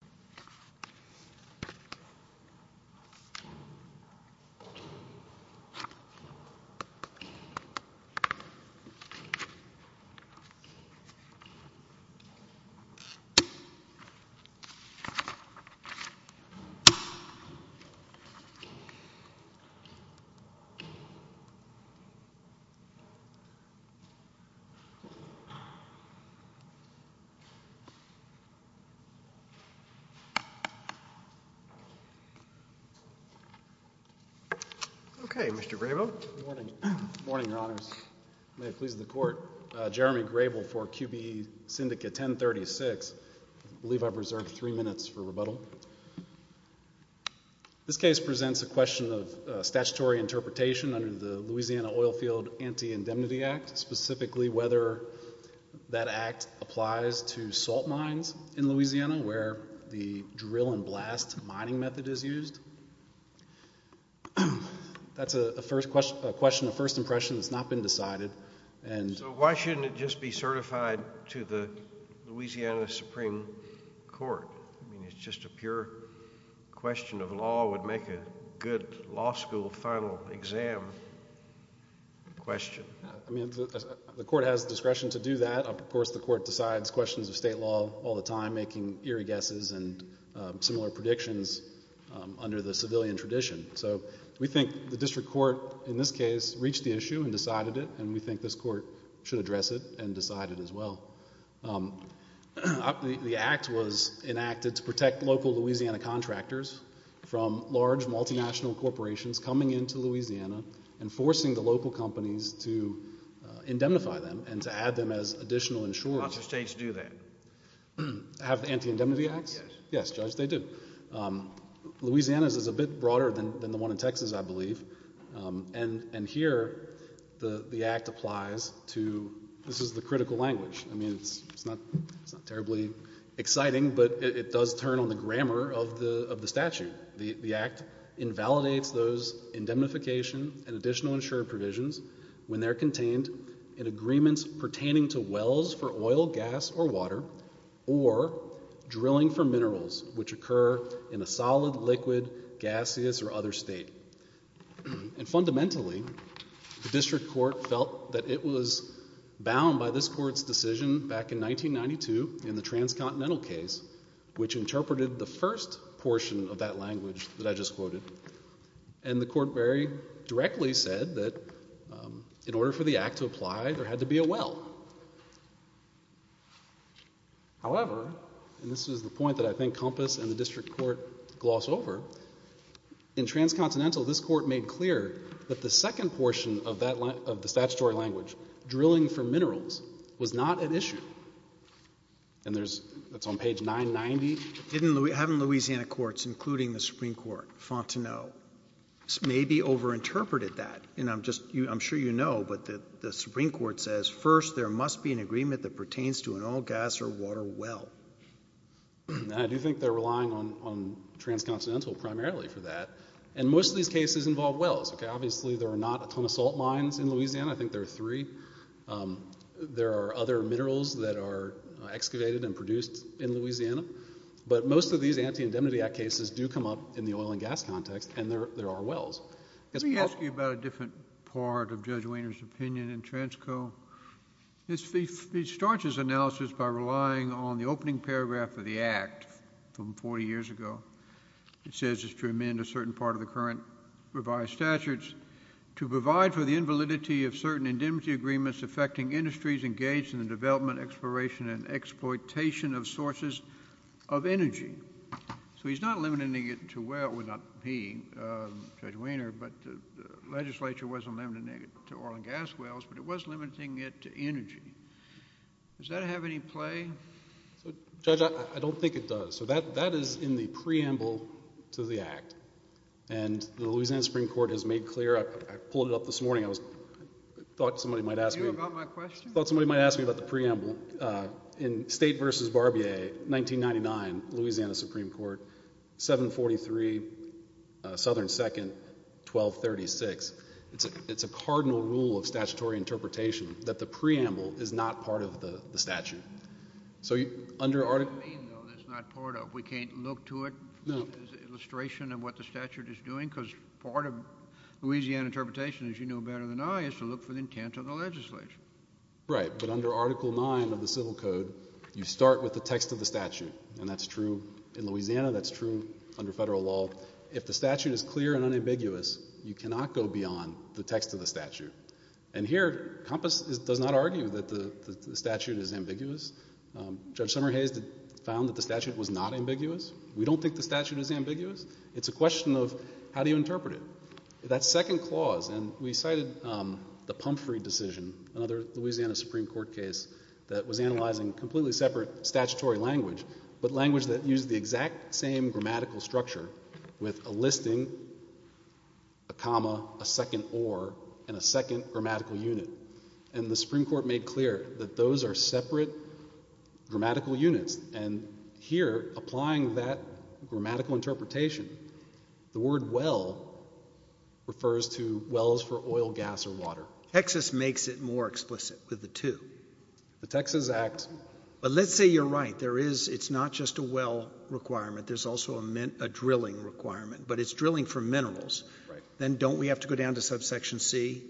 1036 v. Compass Minerals OK, Mr. Grabo. Good morning. Morning, your Honor. May it please the Court. Jeremy Grabo for QBE Syndicate 1036. I believe I've reserved three minutes for rebuttal. This case presents a question of a statutory interpretation under the Louisiana Oil Field Anti-Indemnity Act, specifically whether that act applies to salt mines in Louisiana where the drill and blast mining method is used. That's a question of first impression that's not been decided. And why shouldn't it just be certified to the Louisiana Supreme Court? I mean, it's just a pure question of law would make a good law school final exam question. I mean, the Court has discretion to do that. Of course, the Court decides questions of state law all the time, making eerie guesses and similar predictions under the civilian tradition. So we think the district court, in this case, reached the issue and decided it. And we think this court should address it and decide it as well. The act was enacted to protect local Louisiana contractors from large multinational corporations coming into Louisiana and forcing the local companies to indemnify them and to add them as additional insurers. Lots of states do that. Have anti-indemnity acts? Yes, Judge, they do. Louisiana's is a bit broader than the one in Texas, I believe. And here, the act applies to, this is the critical language. I mean, it's not terribly exciting, but it does turn on the grammar of the statute. The act invalidates those indemnification and additional insurer provisions when they're contained in agreements pertaining to wells for oil, gas, or water, or drilling for minerals which occur in a solid, liquid, gaseous, or other state. And fundamentally, the district court felt that it was bound by this court's decision back in 1992 in the transcontinental case, which interpreted the first portion of that language that I just quoted. And the court very directly said that in order for the act to apply, there had to be a well. However, and this is the point that I think Compass and the district court gloss over, in transcontinental, this court made clear that the second portion of the statutory language, drilling for minerals, was not an issue. And that's on page 990. Haven't Louisiana courts, including the Supreme Court, fought to know? Maybe over-interpreted that. And I'm sure you know, but the Supreme Court says, first, there must be an agreement that pertains to an oil, gas, or water well. I do think they're relying on transcontinental primarily for that. And most of these cases involve wells. Obviously, there are not a ton of salt mines in Louisiana. I think there are three. There are other minerals that are excavated and produced in Louisiana. But most of these Anti-Indemnity Act cases do come up in the oil and gas context. And there are wells. Let me ask you about a different part of Judge Weiner's opinion in transco. He starts his analysis by relying on the opening paragraph of the Act from 40 years ago. It says it's to amend a certain part of the current revised statutes to provide for the invalidity of certain indemnity agreements affecting industries engaged in the development, exploration, and exploitation of sources of energy. So he's not limiting it to well. Well, not he, Judge Weiner, but the legislature wasn't limiting it to oil and gas wells, but it was limiting it to energy. Does that have any play? Judge, I don't think it does. So that is in the preamble to the Act. And the Louisiana Supreme Court has made clear. I pulled it up this morning. I thought somebody might ask me about the preamble. In State versus Barbier, 1999, Louisiana Supreme Court, 743, Southern Second, 1236, it's a cardinal rule of statutory interpretation that the preamble is not part of the statute. So under Article 9, though, that's not part of it. We can't look to it as an illustration of what the statute is doing? Because part of Louisiana interpretation, as you know better than I, is to look for the intent of the legislature. Right, but under Article 9 of the Civil Code, you start with the text of the statute. And that's true in Louisiana. That's true under federal law. If the statute is clear and unambiguous, you cannot go beyond the text of the statute. And here, Compass does not argue that the statute is ambiguous. Judge Summerhays found that the statute was not ambiguous. We don't think the statute is ambiguous. It's a question of, how do you interpret it? That second clause, and we cited the Pumphrey decision, another Louisiana Supreme Court case that was analyzing completely separate statutory language, but language that used the exact same grammatical structure with a listing, a comma, a second or, and a second grammatical unit. And the Supreme Court made clear that those are separate grammatical units. And here, applying that grammatical interpretation, the word well refers to wells for oil, gas, or water. Texas makes it more explicit with the two. The Texas Act. But let's say you're right. It's not just a well requirement. There's also a drilling requirement. But it's drilling for minerals. Then don't we have to go down to subsection C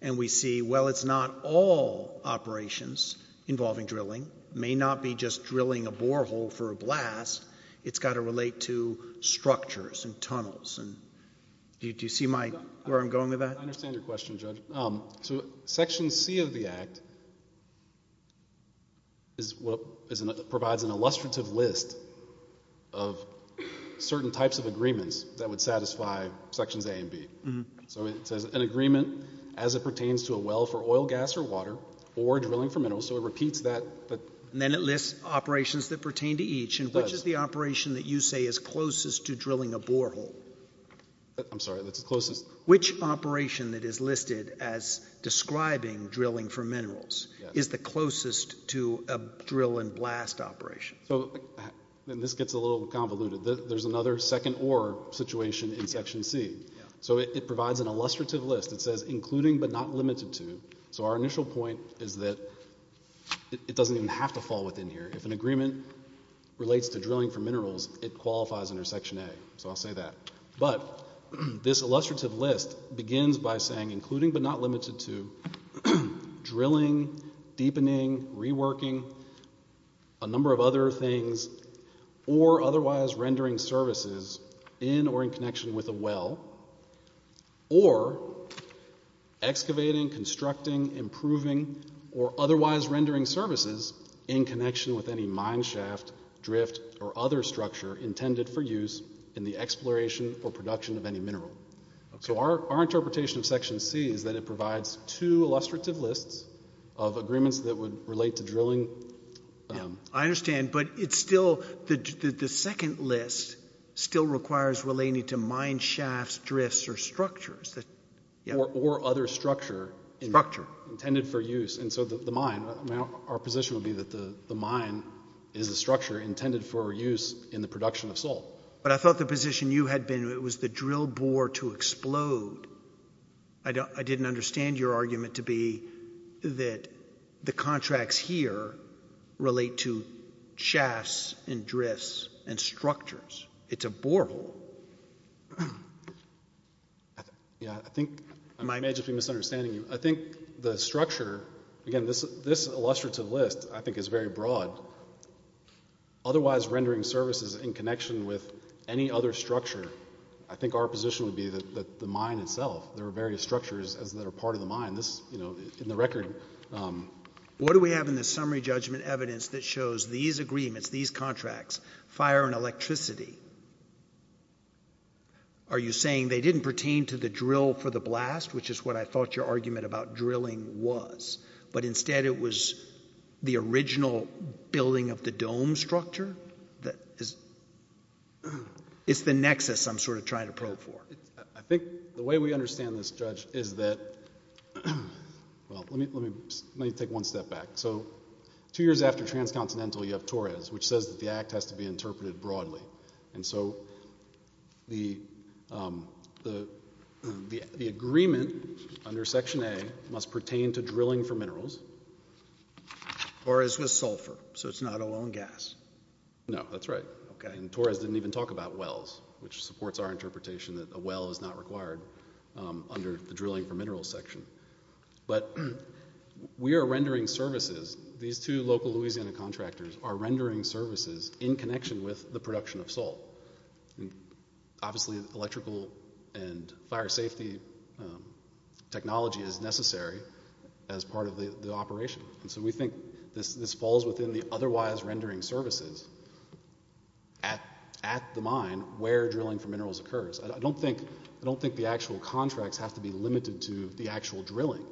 and we see, well, it's not all operations involving drilling. It may not be just drilling a borehole for a blast. It's got to relate to structures and tunnels. And do you see where I'm going with that? I understand your question, Judge. So section C of the Act provides an illustrative list of certain types of agreements that would satisfy sections A and B. So it says, an agreement as it pertains to a well for oil, gas, or water, or drilling for minerals. So it repeats that. And then it lists operations that pertain to each. And which is the operation that you say is closest to drilling a borehole? I'm sorry. That's closest. Which operation that is listed as describing drilling for minerals is the closest to a drill and blast operation? So then this gets a little convoluted. There's another second or situation in section C. So it provides an illustrative list. It says, including but not limited to. So our initial point is that it doesn't even have to fall within here. If an agreement relates to drilling for minerals, it qualifies under section A. So I'll say that. But this illustrative list begins by saying, including but not limited to drilling, deepening, reworking, a number of other things, or otherwise rendering services in or in connection with a well, or excavating, constructing, improving, or otherwise rendering services in connection with any mine shaft, drift, or other structure intended for use in the exploration or production of any mineral. So our interpretation of section C is that it provides two illustrative lists of agreements that would relate to drilling. I understand. But the second list still requires relating to mine shafts, drifts, or structures. Or other structure intended for use. And so the mine, our position would be that the mine is a structure intended for use in the production of salt. But I thought the position you had been in was the drill bore to explode. I didn't understand your argument to be that the contracts here relate to shafts, and drifts, and structures. It's a borehole. Yeah, I think I may just be misunderstanding you. I think the structure, again, this illustrative list, I think is very broad. Otherwise, rendering services in connection with any other structure, I think our position would be that the mine itself, there are various structures that are part of the mine. In the record. What do we have in the summary judgment evidence that shows these agreements, these contracts, fire and electricity? Are you saying they didn't pertain to the drill for the blast, which is what I thought your argument about drilling was? But instead, it was the original building of the dome structure? It's the nexus I'm trying to probe for. I think the way we understand this, Judge, is that, well, let me take one step back. So two years after Transcontinental, you have Torres, which says that the act has to be interpreted broadly. And so the agreement under Section A must pertain to drilling for minerals. Torres was sulfur, so it's not a lone gas. No, that's right. And Torres didn't even talk about wells, which supports our interpretation that a well is not required under the drilling for minerals section. But we are rendering services. These two local Louisiana contractors are rendering services in connection with the production of salt. Obviously, electrical and fire safety technology is necessary as part of the operation. And so we think this falls within the otherwise rendering services at the mine where drilling for minerals occurs. I don't think the actual contracts have to be limited to the actual drilling.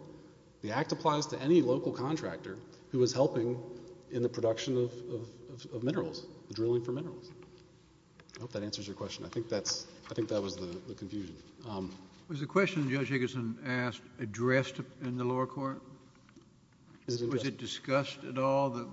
The act applies to any local contractor who is helping in the production of minerals, drilling for minerals. I hope that answers your question. I think that was the confusion. Was the question Judge Higginson asked addressed in the lower court? Was it discussed at all, the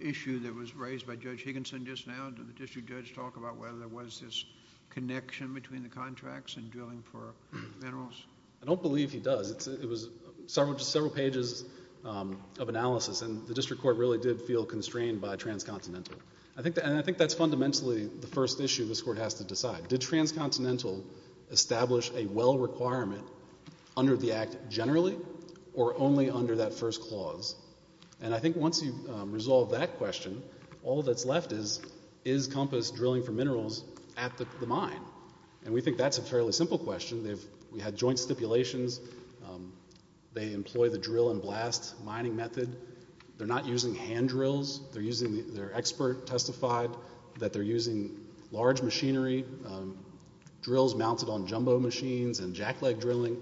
issue that was raised by Judge Higginson just now? Did the district judge talk about whether there was this connection between the contracts and drilling for minerals? I don't believe he does. It was several pages of analysis. And the district court really did feel constrained by transcontinental. And I think that's fundamentally the first issue this court has to decide. Did transcontinental establish a well requirement under the act generally or only under that first clause? And I think once you resolve that question, all that's left is, is COMPASS drilling for minerals at the mine? And we think that's a fairly simple question. They've had joint stipulations. They employ the drill and blast mining method. They're not using hand drills. They're using, their expert testified that they're using large machinery, drills mounted on jumbo machines and jack leg drilling.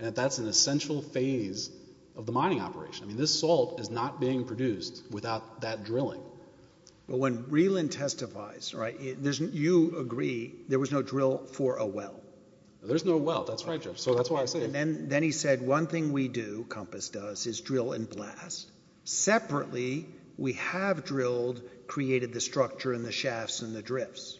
And that's an essential phase of the mining operation. I mean, this salt is not being produced without that drilling. But when Reland testifies, you agree there was no drill for a well. There's no well. That's right, Judge. So that's why I say it. And then he said, one thing we do, COMPASS does, is drill and blast. Separately, we have drilled, created the structure and the shafts and the drifts.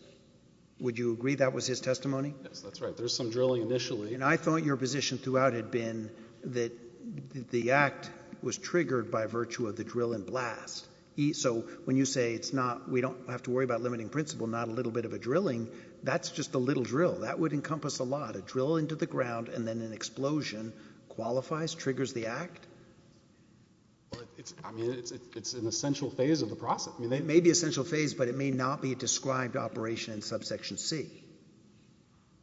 Would you agree that was his testimony? Yes, that's right. There's some drilling initially. And I thought your position throughout had been that the act was triggered by virtue of the drill and blast. So when you say, we don't have to worry about limiting principle, not a little bit of a drilling, that's just a little drill. That would encompass a lot. A drill into the ground and then an explosion qualifies, triggers the act? I mean, it's an essential phase of the process. It may be an essential phase, but it may not be a described operation in subsection C.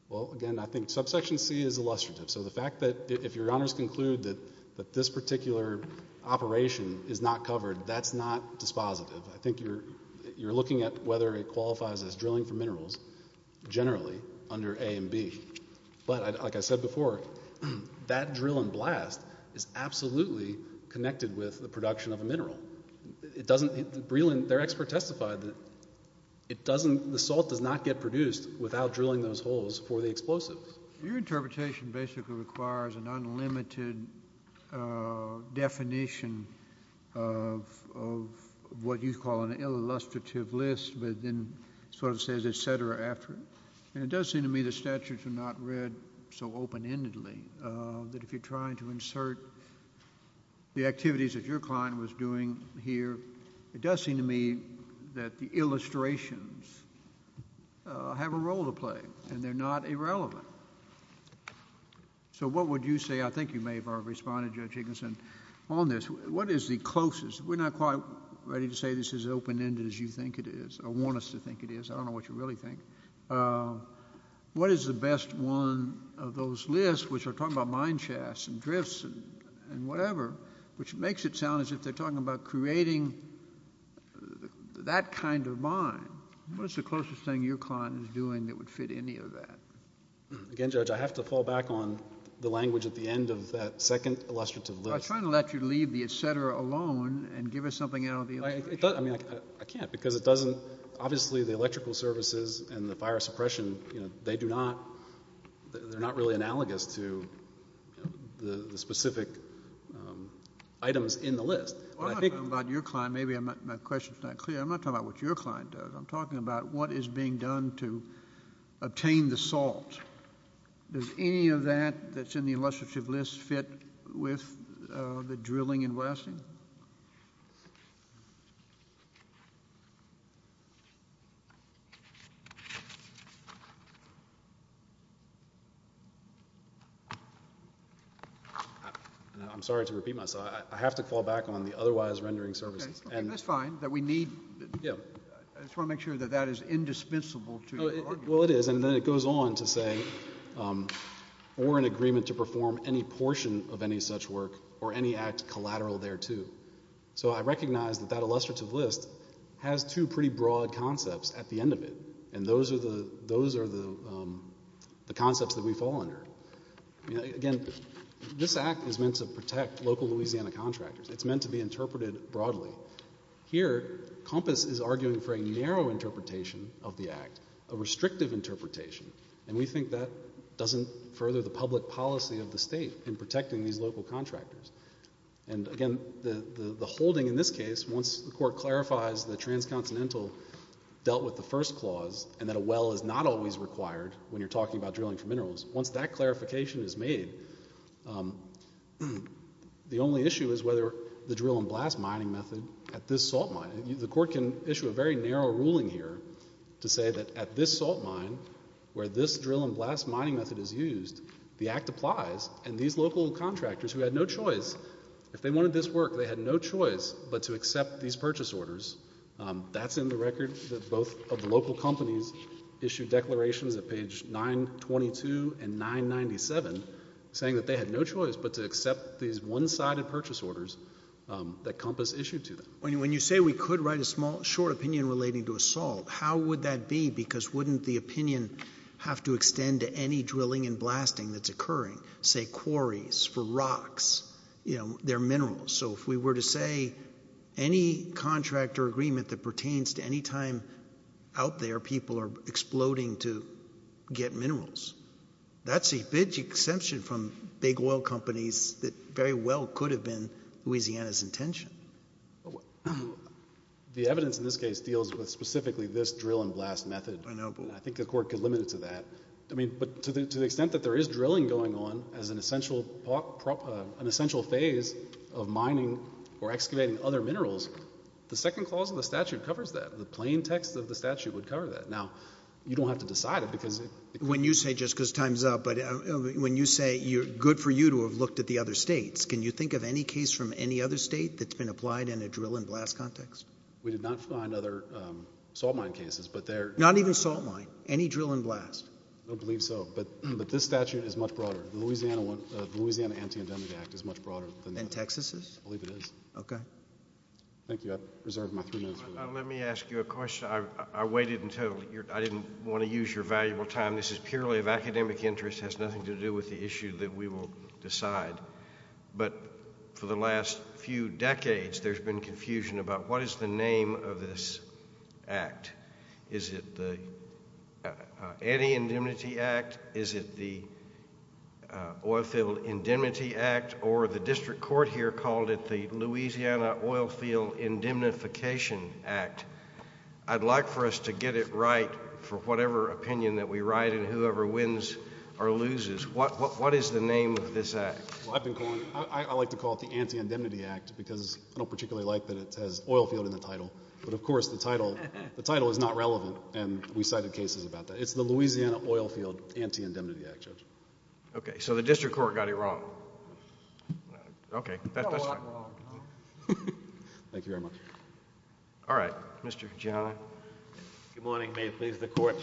Well, again, I think subsection C is illustrative. So the fact that if your honors conclude that this particular operation is not covered, that's not dispositive. I think you're looking at whether it qualifies as drilling for minerals, generally, under A and B. But like I said before, that drill and blast is absolutely connected with the production of a mineral. It doesn't, Breland, their expert, testified that the salt does not get produced without drilling those holes for the explosives. Your interpretation basically requires an unlimited definition of what you call an illustrative list, but then sort of says, et cetera, after it. And it does seem to me the statutes are not read so open-endedly, that if you're trying to insert the activities that your client was doing here, it does seem to me that the illustrations have a role to play, and they're not irrelevant. So what would you say? I think you may have already responded, Judge Igginson, on this. What is the closest? We're not quite ready to say this is open-ended as you think it is, or want us to think it is. I don't know what you really think. What is the best one of those lists, which are talking about mine shafts, and drifts, and whatever, which makes it sound as if they're talking about creating that kind of mine. What's the closest thing your client is doing that would fit any of that? Again, Judge, I have to fall back on the language at the end of that second illustrative list. I was trying to let you leave the et cetera alone and give us something out of the illustration. I can't, because it doesn't, obviously, the electrical services and the fire suppression, they do not, they're not really analogous to the specific items in the list. Well, I'm not talking about your client. Maybe my question's not clear. I'm not talking about what your client does. I'm talking about what is being done to obtain the salt. Does any of that that's in the illustrative list fit with the drilling and blasting? I'm sorry to repeat myself. I have to fall back on the otherwise rendering services. OK. That's fine. That we need, I just want to make sure that that is indispensable to your argument. Well, it is. And then it goes on to say, or an agreement to perform any portion of any such work, or any act collateral thereto. So I recognize that that illustrative list And those are the, those are the things that I'm going to be talking about. Those are the concepts that we fall under. Again, this act is meant to protect local Louisiana contractors. It's meant to be interpreted broadly. Here, COMPAS is arguing for a narrow interpretation of the act, a restrictive interpretation. And we think that doesn't further the public policy of the state in protecting these local contractors. And again, the holding in this case, once the court clarifies the transcontinental dealt with the first clause, and that a well is not always required when you're talking about drilling for minerals. Once that clarification is made, the only issue is whether the drill and blast mining method at this salt mine, the court can issue a very narrow ruling here to say that at this salt mine, where this drill and blast mining method is used, the act applies. And these local contractors who had no choice, if they wanted this work, they had no choice but to accept these purchase orders. That's in the record that both of the local companies issued declarations at page 922 and 997, saying that they had no choice but to accept these one-sided purchase orders that COMPAS issued to them. When you say we could write a short opinion relating to a salt, how would that be? Because wouldn't the opinion have to extend to any drilling and blasting that's occurring? Say quarries for rocks, their minerals. So if we were to say any contractor agreement that we're exploding to get minerals, that's a big exception from big oil companies that very well could have been Louisiana's intention. The evidence in this case deals with specifically this drill and blast method. I think the court could limit it to that. But to the extent that there is drilling going on as an essential phase of mining or excavating other minerals, the second clause of the statute covers that. The plain text of the statute would cover that. Now, you don't have to decide it because it could. When you say, just because time's up, but when you say good for you to have looked at the other states, can you think of any case from any other state that's been applied in a drill and blast context? We did not find other salt mine cases, but there are. Not even salt mine. Any drill and blast. I don't believe so, but this statute is much broader. The Louisiana Anti-Indemnity Act is much broader than that. Than Texas's? I believe it is. OK. Thank you. I've reserved my three minutes for that. Let me ask you a question. I waited until I didn't want to use your valuable time. This is purely of academic interest. It has nothing to do with the issue that we will decide. But for the last few decades, there's been confusion about what is the name of this act. Is it the Anti-Indemnity Act? Is it the Oilfield Indemnity Act? Or the district court here called it the Louisiana Oil Field Indemnification Act. I'd like for us to get it right for whatever opinion that we write and whoever wins or loses. What is the name of this act? I've been calling it, I like to call it the Anti-Indemnity Act because I don't particularly like that it has oil field in the title. But of course, the title is not relevant and we cited cases about that. It's the Louisiana Oilfield Anti-Indemnity Act, Judge. OK, so the district court got it wrong. OK. That's fine. Thank you very much. All right, Mr. Giannulli. Good morning, may it please the court.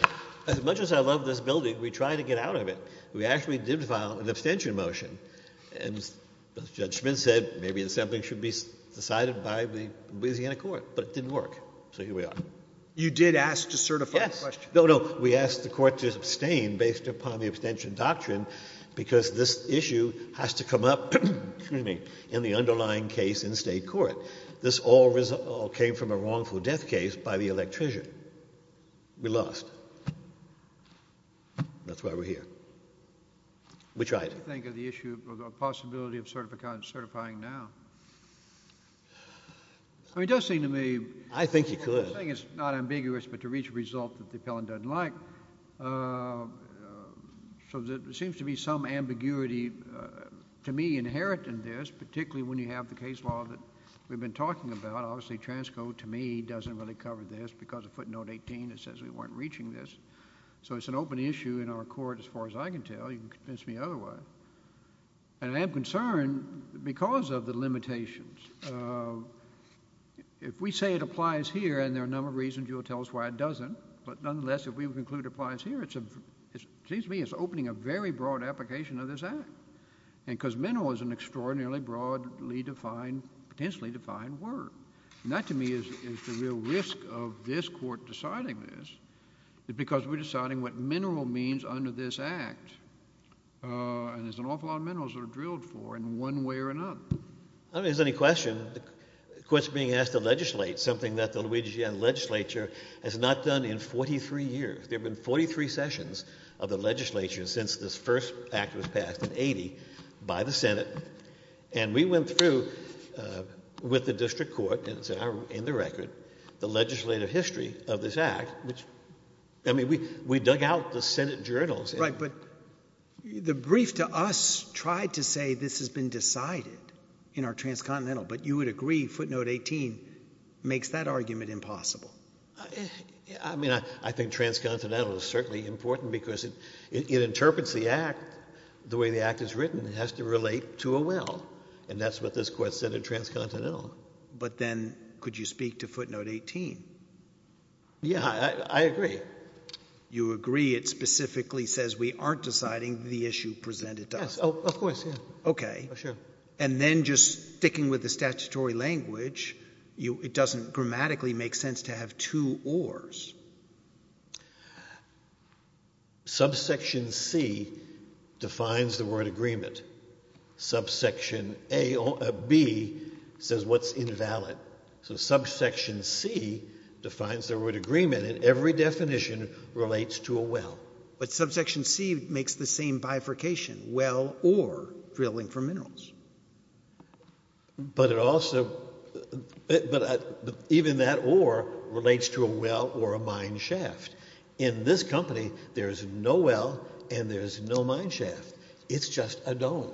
As much as I love this building, we tried to get out of it. We actually did file an abstention motion. And Judge Schmitt said maybe something should be decided by the Louisiana court, but it didn't work. So here we are. You did ask to certify the question. No, no. We asked the court to abstain based upon the abstention doctrine because this issue has to come up in the underlying case in state court. This all came from a wrongful death case by the electrician. We lost. That's why we're here. We tried. What do you think of the issue of the possibility of certifying now? I mean, it does seem to me. I think you could. I think it's not ambiguous, but to reach a result that the appellant doesn't like. So there seems to be some ambiguity to me inherent in this, particularly when you have the case law that we've been talking about. Obviously, Transco, to me, doesn't really cover this because of footnote 18. It says we weren't reaching this. So it's an open issue in our court, as far as I can tell. You can convince me otherwise. And I am concerned because of the limitations. If we say it applies here, and there are a number of reasons, you'll tell us why it doesn't. But nonetheless, if we would conclude it applies here, it seems to me it's opening a very broad application of this act, because mineral is an extraordinarily broadly defined, potentially defined word. And that, to me, is the real risk of this court deciding this, because we're deciding what mineral means under this act. And there's an awful lot of minerals that are drilled for in one way or another. I don't know if there's any question. The court's being asked to legislate, something that the Louisiana legislature has not done in 43 years. There have been 43 sessions of the legislature since this first act was passed in 80 by the Senate. And we went through with the district court, and it's in the record, the legislative history of this act, which, I mean, we dug out the Senate journals. Right, but the brief to us tried to say this has been decided in our transcontinental. But you would agree footnote 18 makes that argument impossible. I mean, I think transcontinental is certainly important, because it interprets the act the way the act is written. It has to relate to a will. And that's what this court said in transcontinental. But then, could you speak to footnote 18? Yeah, I agree. You agree it specifically says we aren't deciding the issue presented to us. Yes, of course, yeah. OK. Sure. And then just sticking with the statutory language, it doesn't grammatically make sense to have two ors. Subsection C defines the word agreement. Subsection B says what's invalid. So subsection C defines the word agreement. And every definition relates to a will. But subsection C makes the same bifurcation, will or drilling for minerals. But even that or relates to a will or a mine shaft. In this company, there is no will and there is no mine shaft. It's just a dome.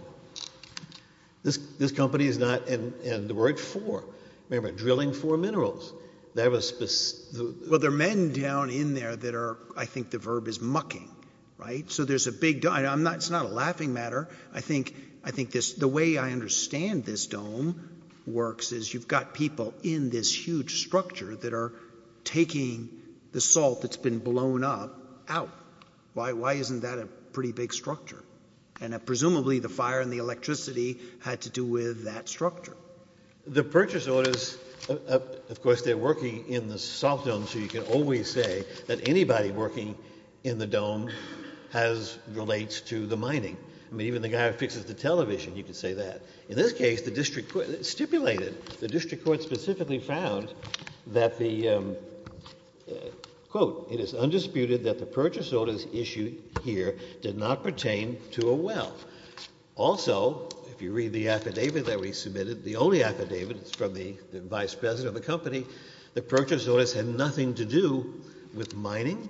This company is not in the word for. Remember, drilling for minerals. Well, there are men down in there that are, I think, the verb is mucking. So there's a big dime. It's not a laughing matter. I think the way I understand this dome works is you've got people in this huge structure that are taking the salt that's been blown up out. Why isn't that a pretty big structure? And presumably, the fire and the electricity had to do with that structure. The purchase orders, of course, they're working in the salt dome. So you can always say that anybody working in the dome relates to the mining. I mean, even the guy who fixes the television, you can say that. In this case, the district court stipulated, the district court specifically found that the quote, it is undisputed that the purchase orders issued here did not pertain to a will. Also, if you read the affidavit that we submitted, the only affidavit from the vice president of the company, the purchase orders had nothing to do with mining,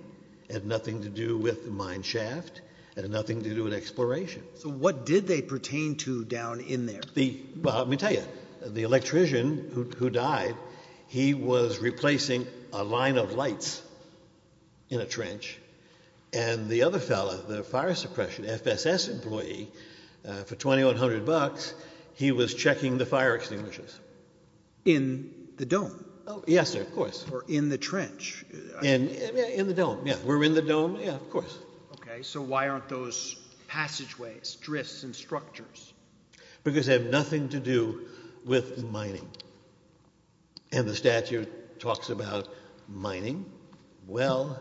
had nothing to do with the mine shaft, and had nothing to do with exploration. So what did they pertain to down in there? Well, let me tell you, the electrician who died, he was replacing a line of lights in a trench. And the other fellow, the fire suppression FSS employee, for $2,100, he was checking the fire extinguishers. In the dome? Yes, sir, of course. Or in the trench? In the dome, yeah. We're in the dome, yeah, of course. So why aren't those passageways, drifts, and structures? Because they have nothing to do with mining. And the statute talks about mining, well,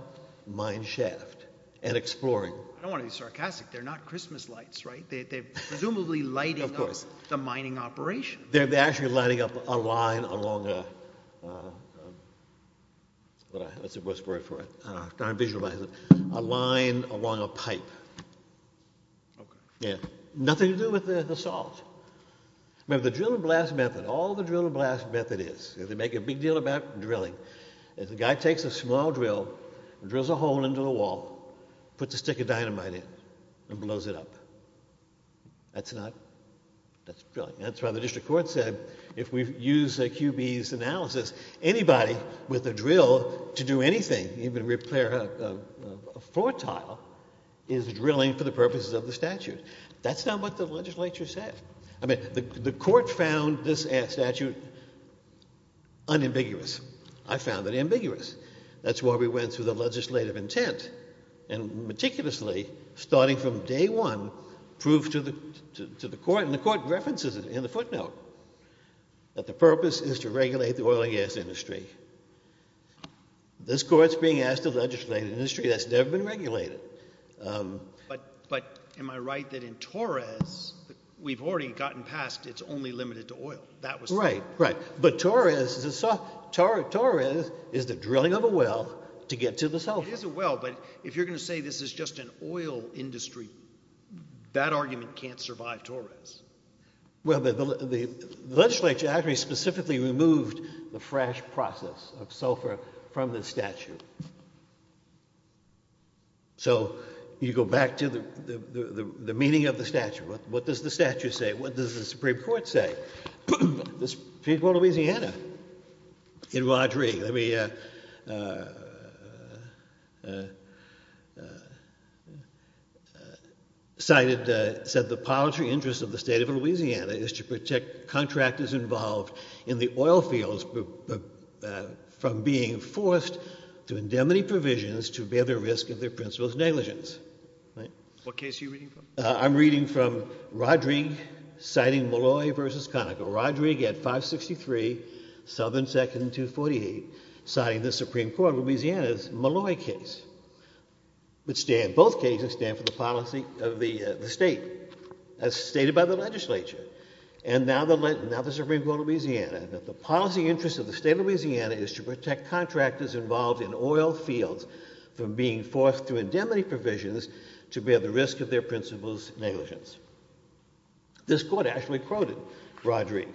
mine shaft, and exploring. I don't want to be sarcastic. They're not Christmas lights, right? They're presumably lighting up the mining operation. They're actually lighting up a line along a, that's the worst word for it, I'm trying to visualize it, a line along a pipe. Yeah, nothing to do with the salt. Remember, the drill and blast method, all the drill and blast method is, they make a big deal about drilling, is the guy takes a small drill, drills a hole into the wall, puts a stick of dynamite in, and blows it up. That's not, that's drilling. That's why the district court said, if we use QB's analysis, anybody with a drill to do anything, even repair a floor tile, is drilling for the purposes of the statute. That's not what the legislature said. I mean, the court found this statute unambiguous. I found it ambiguous. That's why we went through the legislative intent, and meticulously, starting from day one, proved to the court, and the court references it in the footnote, that the purpose is to regulate the oil and gas industry. This court's being asked to legislate an industry that's never been regulated. But am I right that in Torres, we've already gotten past it's only limited to oil? That was the- Right, right. But Torres, Torres is the drilling of a well to get to the salt. It is a well, but if you're gonna say this is just an oil industry, that argument can't survive Torres. Well, the legislature actually specifically removed the fresh process of sulfur from the statute. So, you go back to the meaning of the statute. What does the statute say? What does the Supreme Court say? The Supreme Court of Louisiana, in Rodrigue, let me, cited, said, the paltry interest of the state of Louisiana is to protect contractors involved in the oil fields from being forced to indemnity provisions to bear the risk of their principal's negligence, right? What case are you reading from? I'm reading from Rodrigue, citing Malloy v. Conoco. Rodrigue at 563, Southern 2nd and 248, citing the Supreme Court of Louisiana's Malloy case. But stand, both cases stand for the policy of the state, as stated by the legislature. And now the Supreme Court of Louisiana, that the policy interest of the state of Louisiana is to protect contractors involved in oil fields from being forced through indemnity provisions to bear the risk of their principal's negligence. This court actually quoted Rodrigue.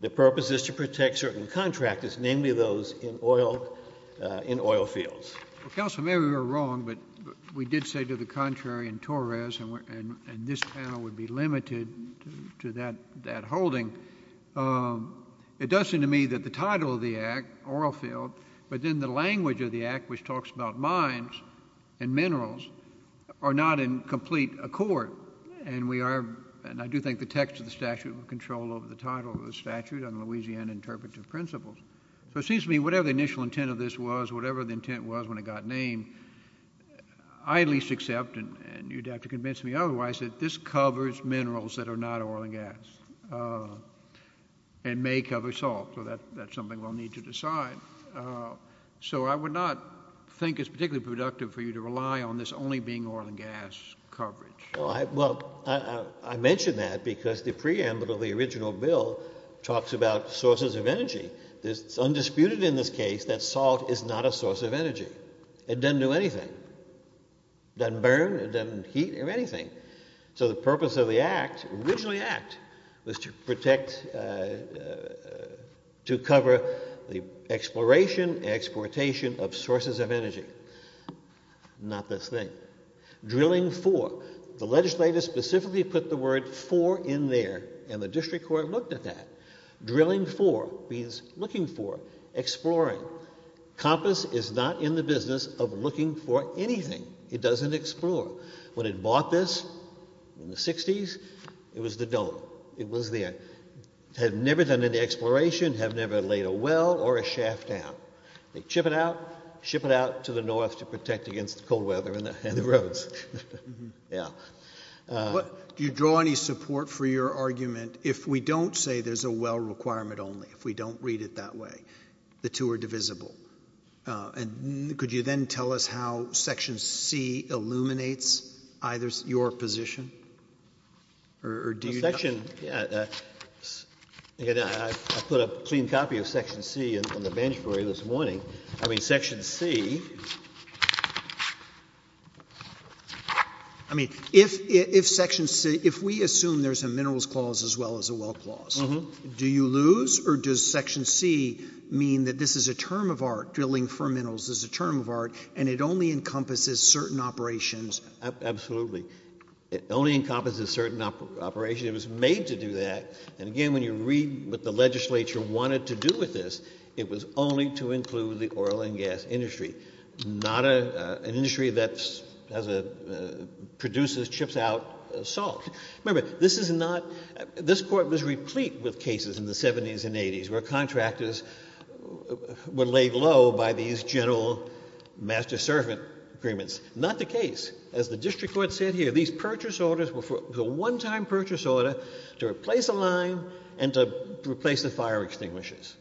The purpose is to protect certain contractors, namely those in oil fields. Well, counsel, maybe we were wrong, but we did say to the contrary in Torres, and this panel would be limited to that holding. It does seem to me that the title of the act, oil field, but then the language of the act, which talks about mines and minerals, are not in complete accord. And we are, and I do think the text of the statute will control over the title of the statute on Louisiana interpretive principles. So it seems to me, whatever the initial intent of this was, whatever the intent was when it got named, I at least accept, and you'd have to convince me otherwise, that this covers minerals that are not oil and gas, and may cover salt. So that's something we'll need to decide. So I would not think it's particularly productive for you to rely on this only being oil and gas coverage. Well, I mentioned that because the preamble to the original bill talks about sources of energy. It's undisputed in this case that salt is not a source of energy. It doesn't do anything. Doesn't burn, it doesn't heat or anything. So the purpose of the act, originally act, was to protect, to cover the exploration, exportation of sources of energy. Not this thing. Drilling for, the legislator specifically put the word for in there, and the district court looked at that. Drilling for means looking for, exploring. Compass is not in the business of looking for anything. It doesn't explore. When it bought this in the 60s, it was the dome. It was there. Have never done any exploration, have never laid a well or a shaft down. They chip it out, ship it out to the north to protect against the cold weather and the roads. Do you draw any support for your argument if we don't say there's a well requirement only? If we don't read it that way? The two are divisible. And could you then tell us how section C illuminates either your position? Or do you? The section, yeah, I put a clean copy of section C on the bench for you this morning. I mean, section C. I mean, if section C, if we assume there's a minerals clause as well as a well clause, do you lose or does section C mean that this is a term of art? Drilling for minerals is a term of art and it only encompasses certain operations? Absolutely. It only encompasses certain operations. It was made to do that. And again, when you read what the legislature wanted to do with this, it was only to include the oil and gas industry. Not an industry that produces, chips out salt. Remember, this is not, this court was replete with cases in the 70s and 80s where contractors were laid low by these general master servant agreements. Not the case. As the district court said here, these purchase orders were for the one time purchase order to replace a line and to replace the fire extinguishers.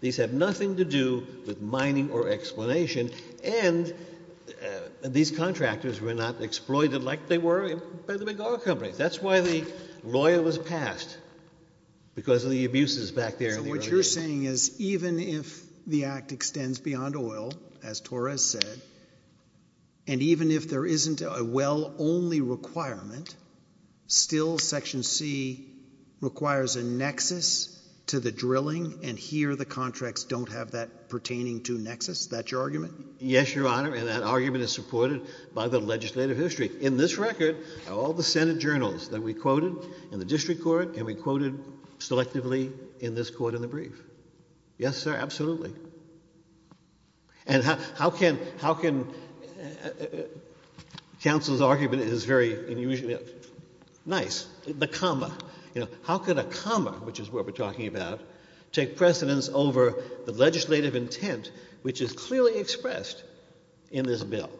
These have nothing to do with mining or explanation. And these contractors were not exploited like they were by the big oil companies. That's why the lawyer was passed. Because of the abuses back there. So what you're saying is even if the act extends beyond oil, as Torres said, and even if there isn't a well only requirement, still section C requires a nexus to the drilling and here the contracts don't have that pertaining to nexus. That's your argument? Yes, your honor. And that argument is supported by the legislative history. In this record, all the Senate journals that we quoted in the district court and we quoted selectively in this court in the brief. Yes, sir, absolutely. And how can, how can, counsel's argument is very unusual. Nice. The comma. How can a comma, which is what we're talking about, take precedence over the legislative intent which is clearly expressed in this bill?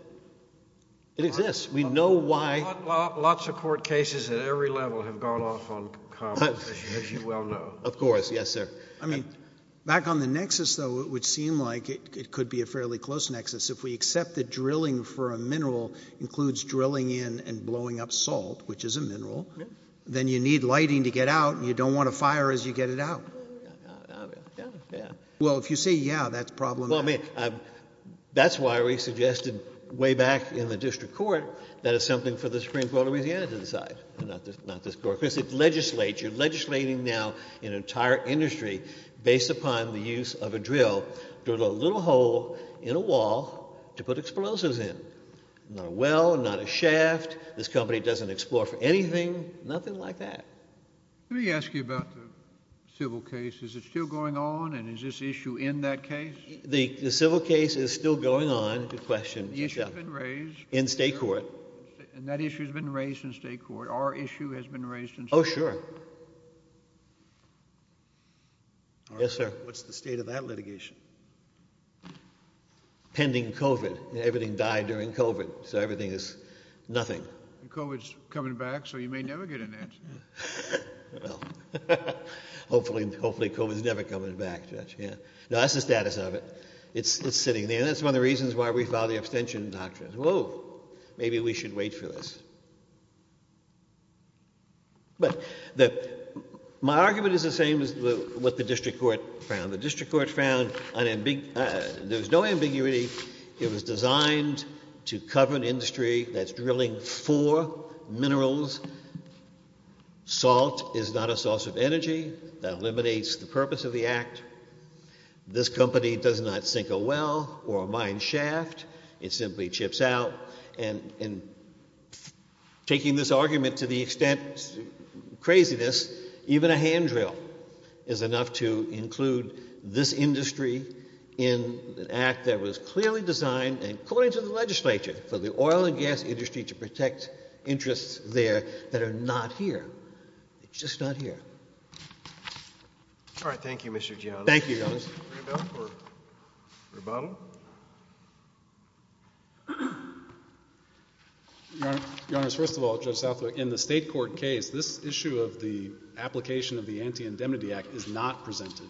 It exists. We know why. Lots of court cases at every level have gone off on commas, as you well know. Of course, yes sir. I mean, back on the nexus though, it would seem like it could be a fairly close nexus. If we accept that drilling for a mineral includes drilling in and blowing up salt, which is a mineral, then you need lighting to get out and you don't want to fire as you get it out. Well, if you say yeah, that's problematic. Well, I mean, that's why we suggested way back in the district court that it's something for the Supreme Court of Louisiana to decide, not this court. Because it legislates, you're legislating now in an entire industry based upon the use of a drill drilled a little hole in a wall to put explosives in. Not a well, not a shaft. This company doesn't explore for anything. Nothing like that. Let me ask you about the civil case. Is it still going on? And is this issue in that case? The civil case is still going on. Good question. The issue's been raised. In state court. And that issue has been raised in state court. Our issue has been raised in state court. Oh, sure. Yes, sir. What's the state of that litigation? Pending COVID. Everything died during COVID. So everything is nothing. COVID's coming back, so you may never get an answer. Well, hopefully COVID's never coming back, Judge. No, that's the status of it. It's sitting there. And that's one of the reasons why we follow the abstention doctrine. Whoa, maybe we should wait for this. But my argument is the same as what the district court found. The district court found there was no ambiguity. It was designed to cover an industry that's drilling for minerals. Salt is not a source of energy. That eliminates the purpose of the act. This company does not sink a well or a mine shaft. It simply chips out. And taking this argument to the extent craziness, even a hand drill is enough to include this industry in an act that was clearly designed, and according to the legislature, for the oil and gas industry to protect interests there that are not here. It's just not here. All right, thank you, Mr. Jones. Thank you, Your Honor. Rebuttal? Your Honor, first of all, Judge Southwick, in the state court case, this issue of the application of the Anti-Indemnity Act is not presented.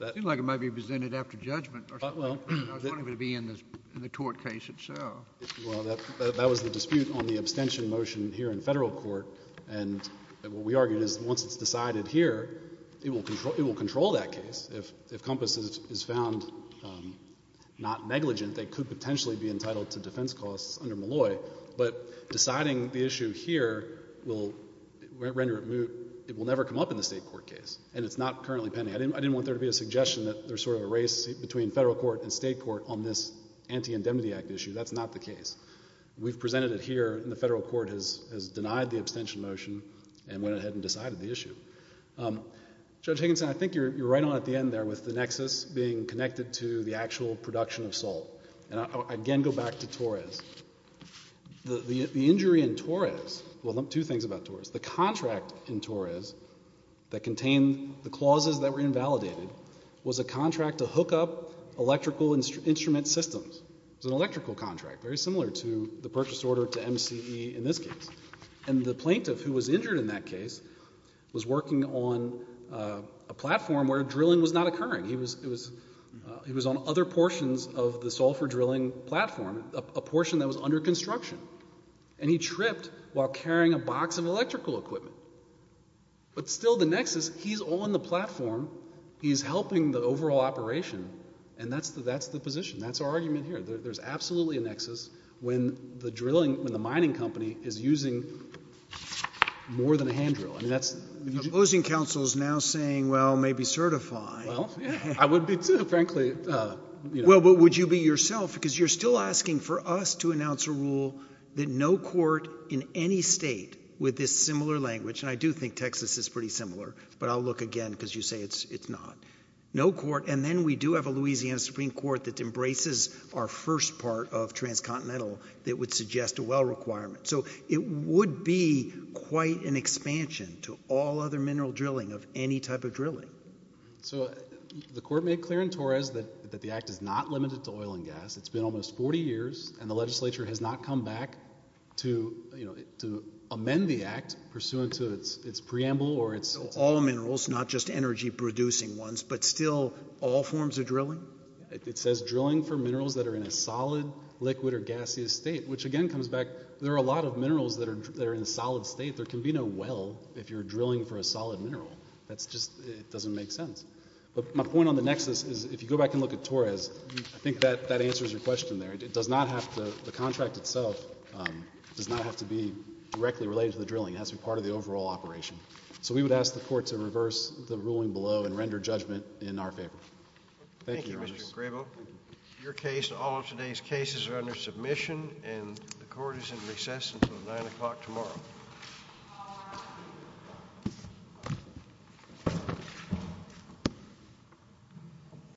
It seemed like it might be presented after judgment, or something. I was wondering if it would be in the tort case itself. Well, that was the dispute on the abstention motion here in federal court. And what we argued is once it's decided here, it will control that case. If COMPAS is found not negligent, they could potentially be entitled to defense costs under Malloy. But deciding the issue here will render it moot. It will never come up in the state court case. And it's not currently pending. I didn't want there to be a suggestion that there's sort of a race between federal court and state court on this Anti-Indemnity Act issue. That's not the case. We've presented it here, and the federal court has denied the abstention motion, and went ahead and decided the issue. Judge Higginson, I think you're right on at the end there with the nexus being connected to the actual production of salt. And I again go back to Torres. The injury in Torres, well, two things about Torres. The contract in Torres that contained the clauses that were invalidated was a contract to hook up electrical instrument systems. It was an electrical contract, very similar to the purchase order to MCE in this case. And the plaintiff who was injured in that case was working on a platform where drilling was not occurring. He was on other portions of the sulfur drilling platform, a portion that was under construction. And he tripped while carrying a box of electrical equipment. But still the nexus, he's on the platform, he's helping the overall operation, and that's the position. That's our argument here. There's absolutely a nexus when the drilling, when the mining company is using more than a hand drill. I mean, that's- Opposing counsel is now saying, well, maybe certify. Well, yeah, I would be too, frankly. Well, but would you be yourself? Because you're still asking for us to announce a rule that no court in any state with this similar language, and I do think Texas is pretty similar, but I'll look again because you say it's not. No court, and then we do have a Louisiana Supreme Court that embraces our first part of transcontinental that would suggest a well requirement. So it would be quite an expansion to all other mineral drilling of any type of drilling. So the court made clear in Torres that the act is not limited to oil and gas. It's been almost 40 years, and the legislature has not come back to amend the act pursuant to its preamble or its- All minerals, not just energy producing ones, but still all forms of drilling. It says drilling for minerals that are in a solid, liquid, or gaseous state, which again comes back, there are a lot of minerals that are in a solid state. There can be no well if you're drilling for a solid mineral. That's just, it doesn't make sense. But my point on the nexus is if you go back and look at Torres, I think that answers your question there. It does not have to, the contract itself does not have to be directly related to the drilling. It has to be part of the overall operation. So we would ask the court to reverse the ruling below and render judgment in our favor. Thank you, Mr. Grebo. Your case and all of today's cases are under submission, and the court is in recess until 9 o'clock tomorrow.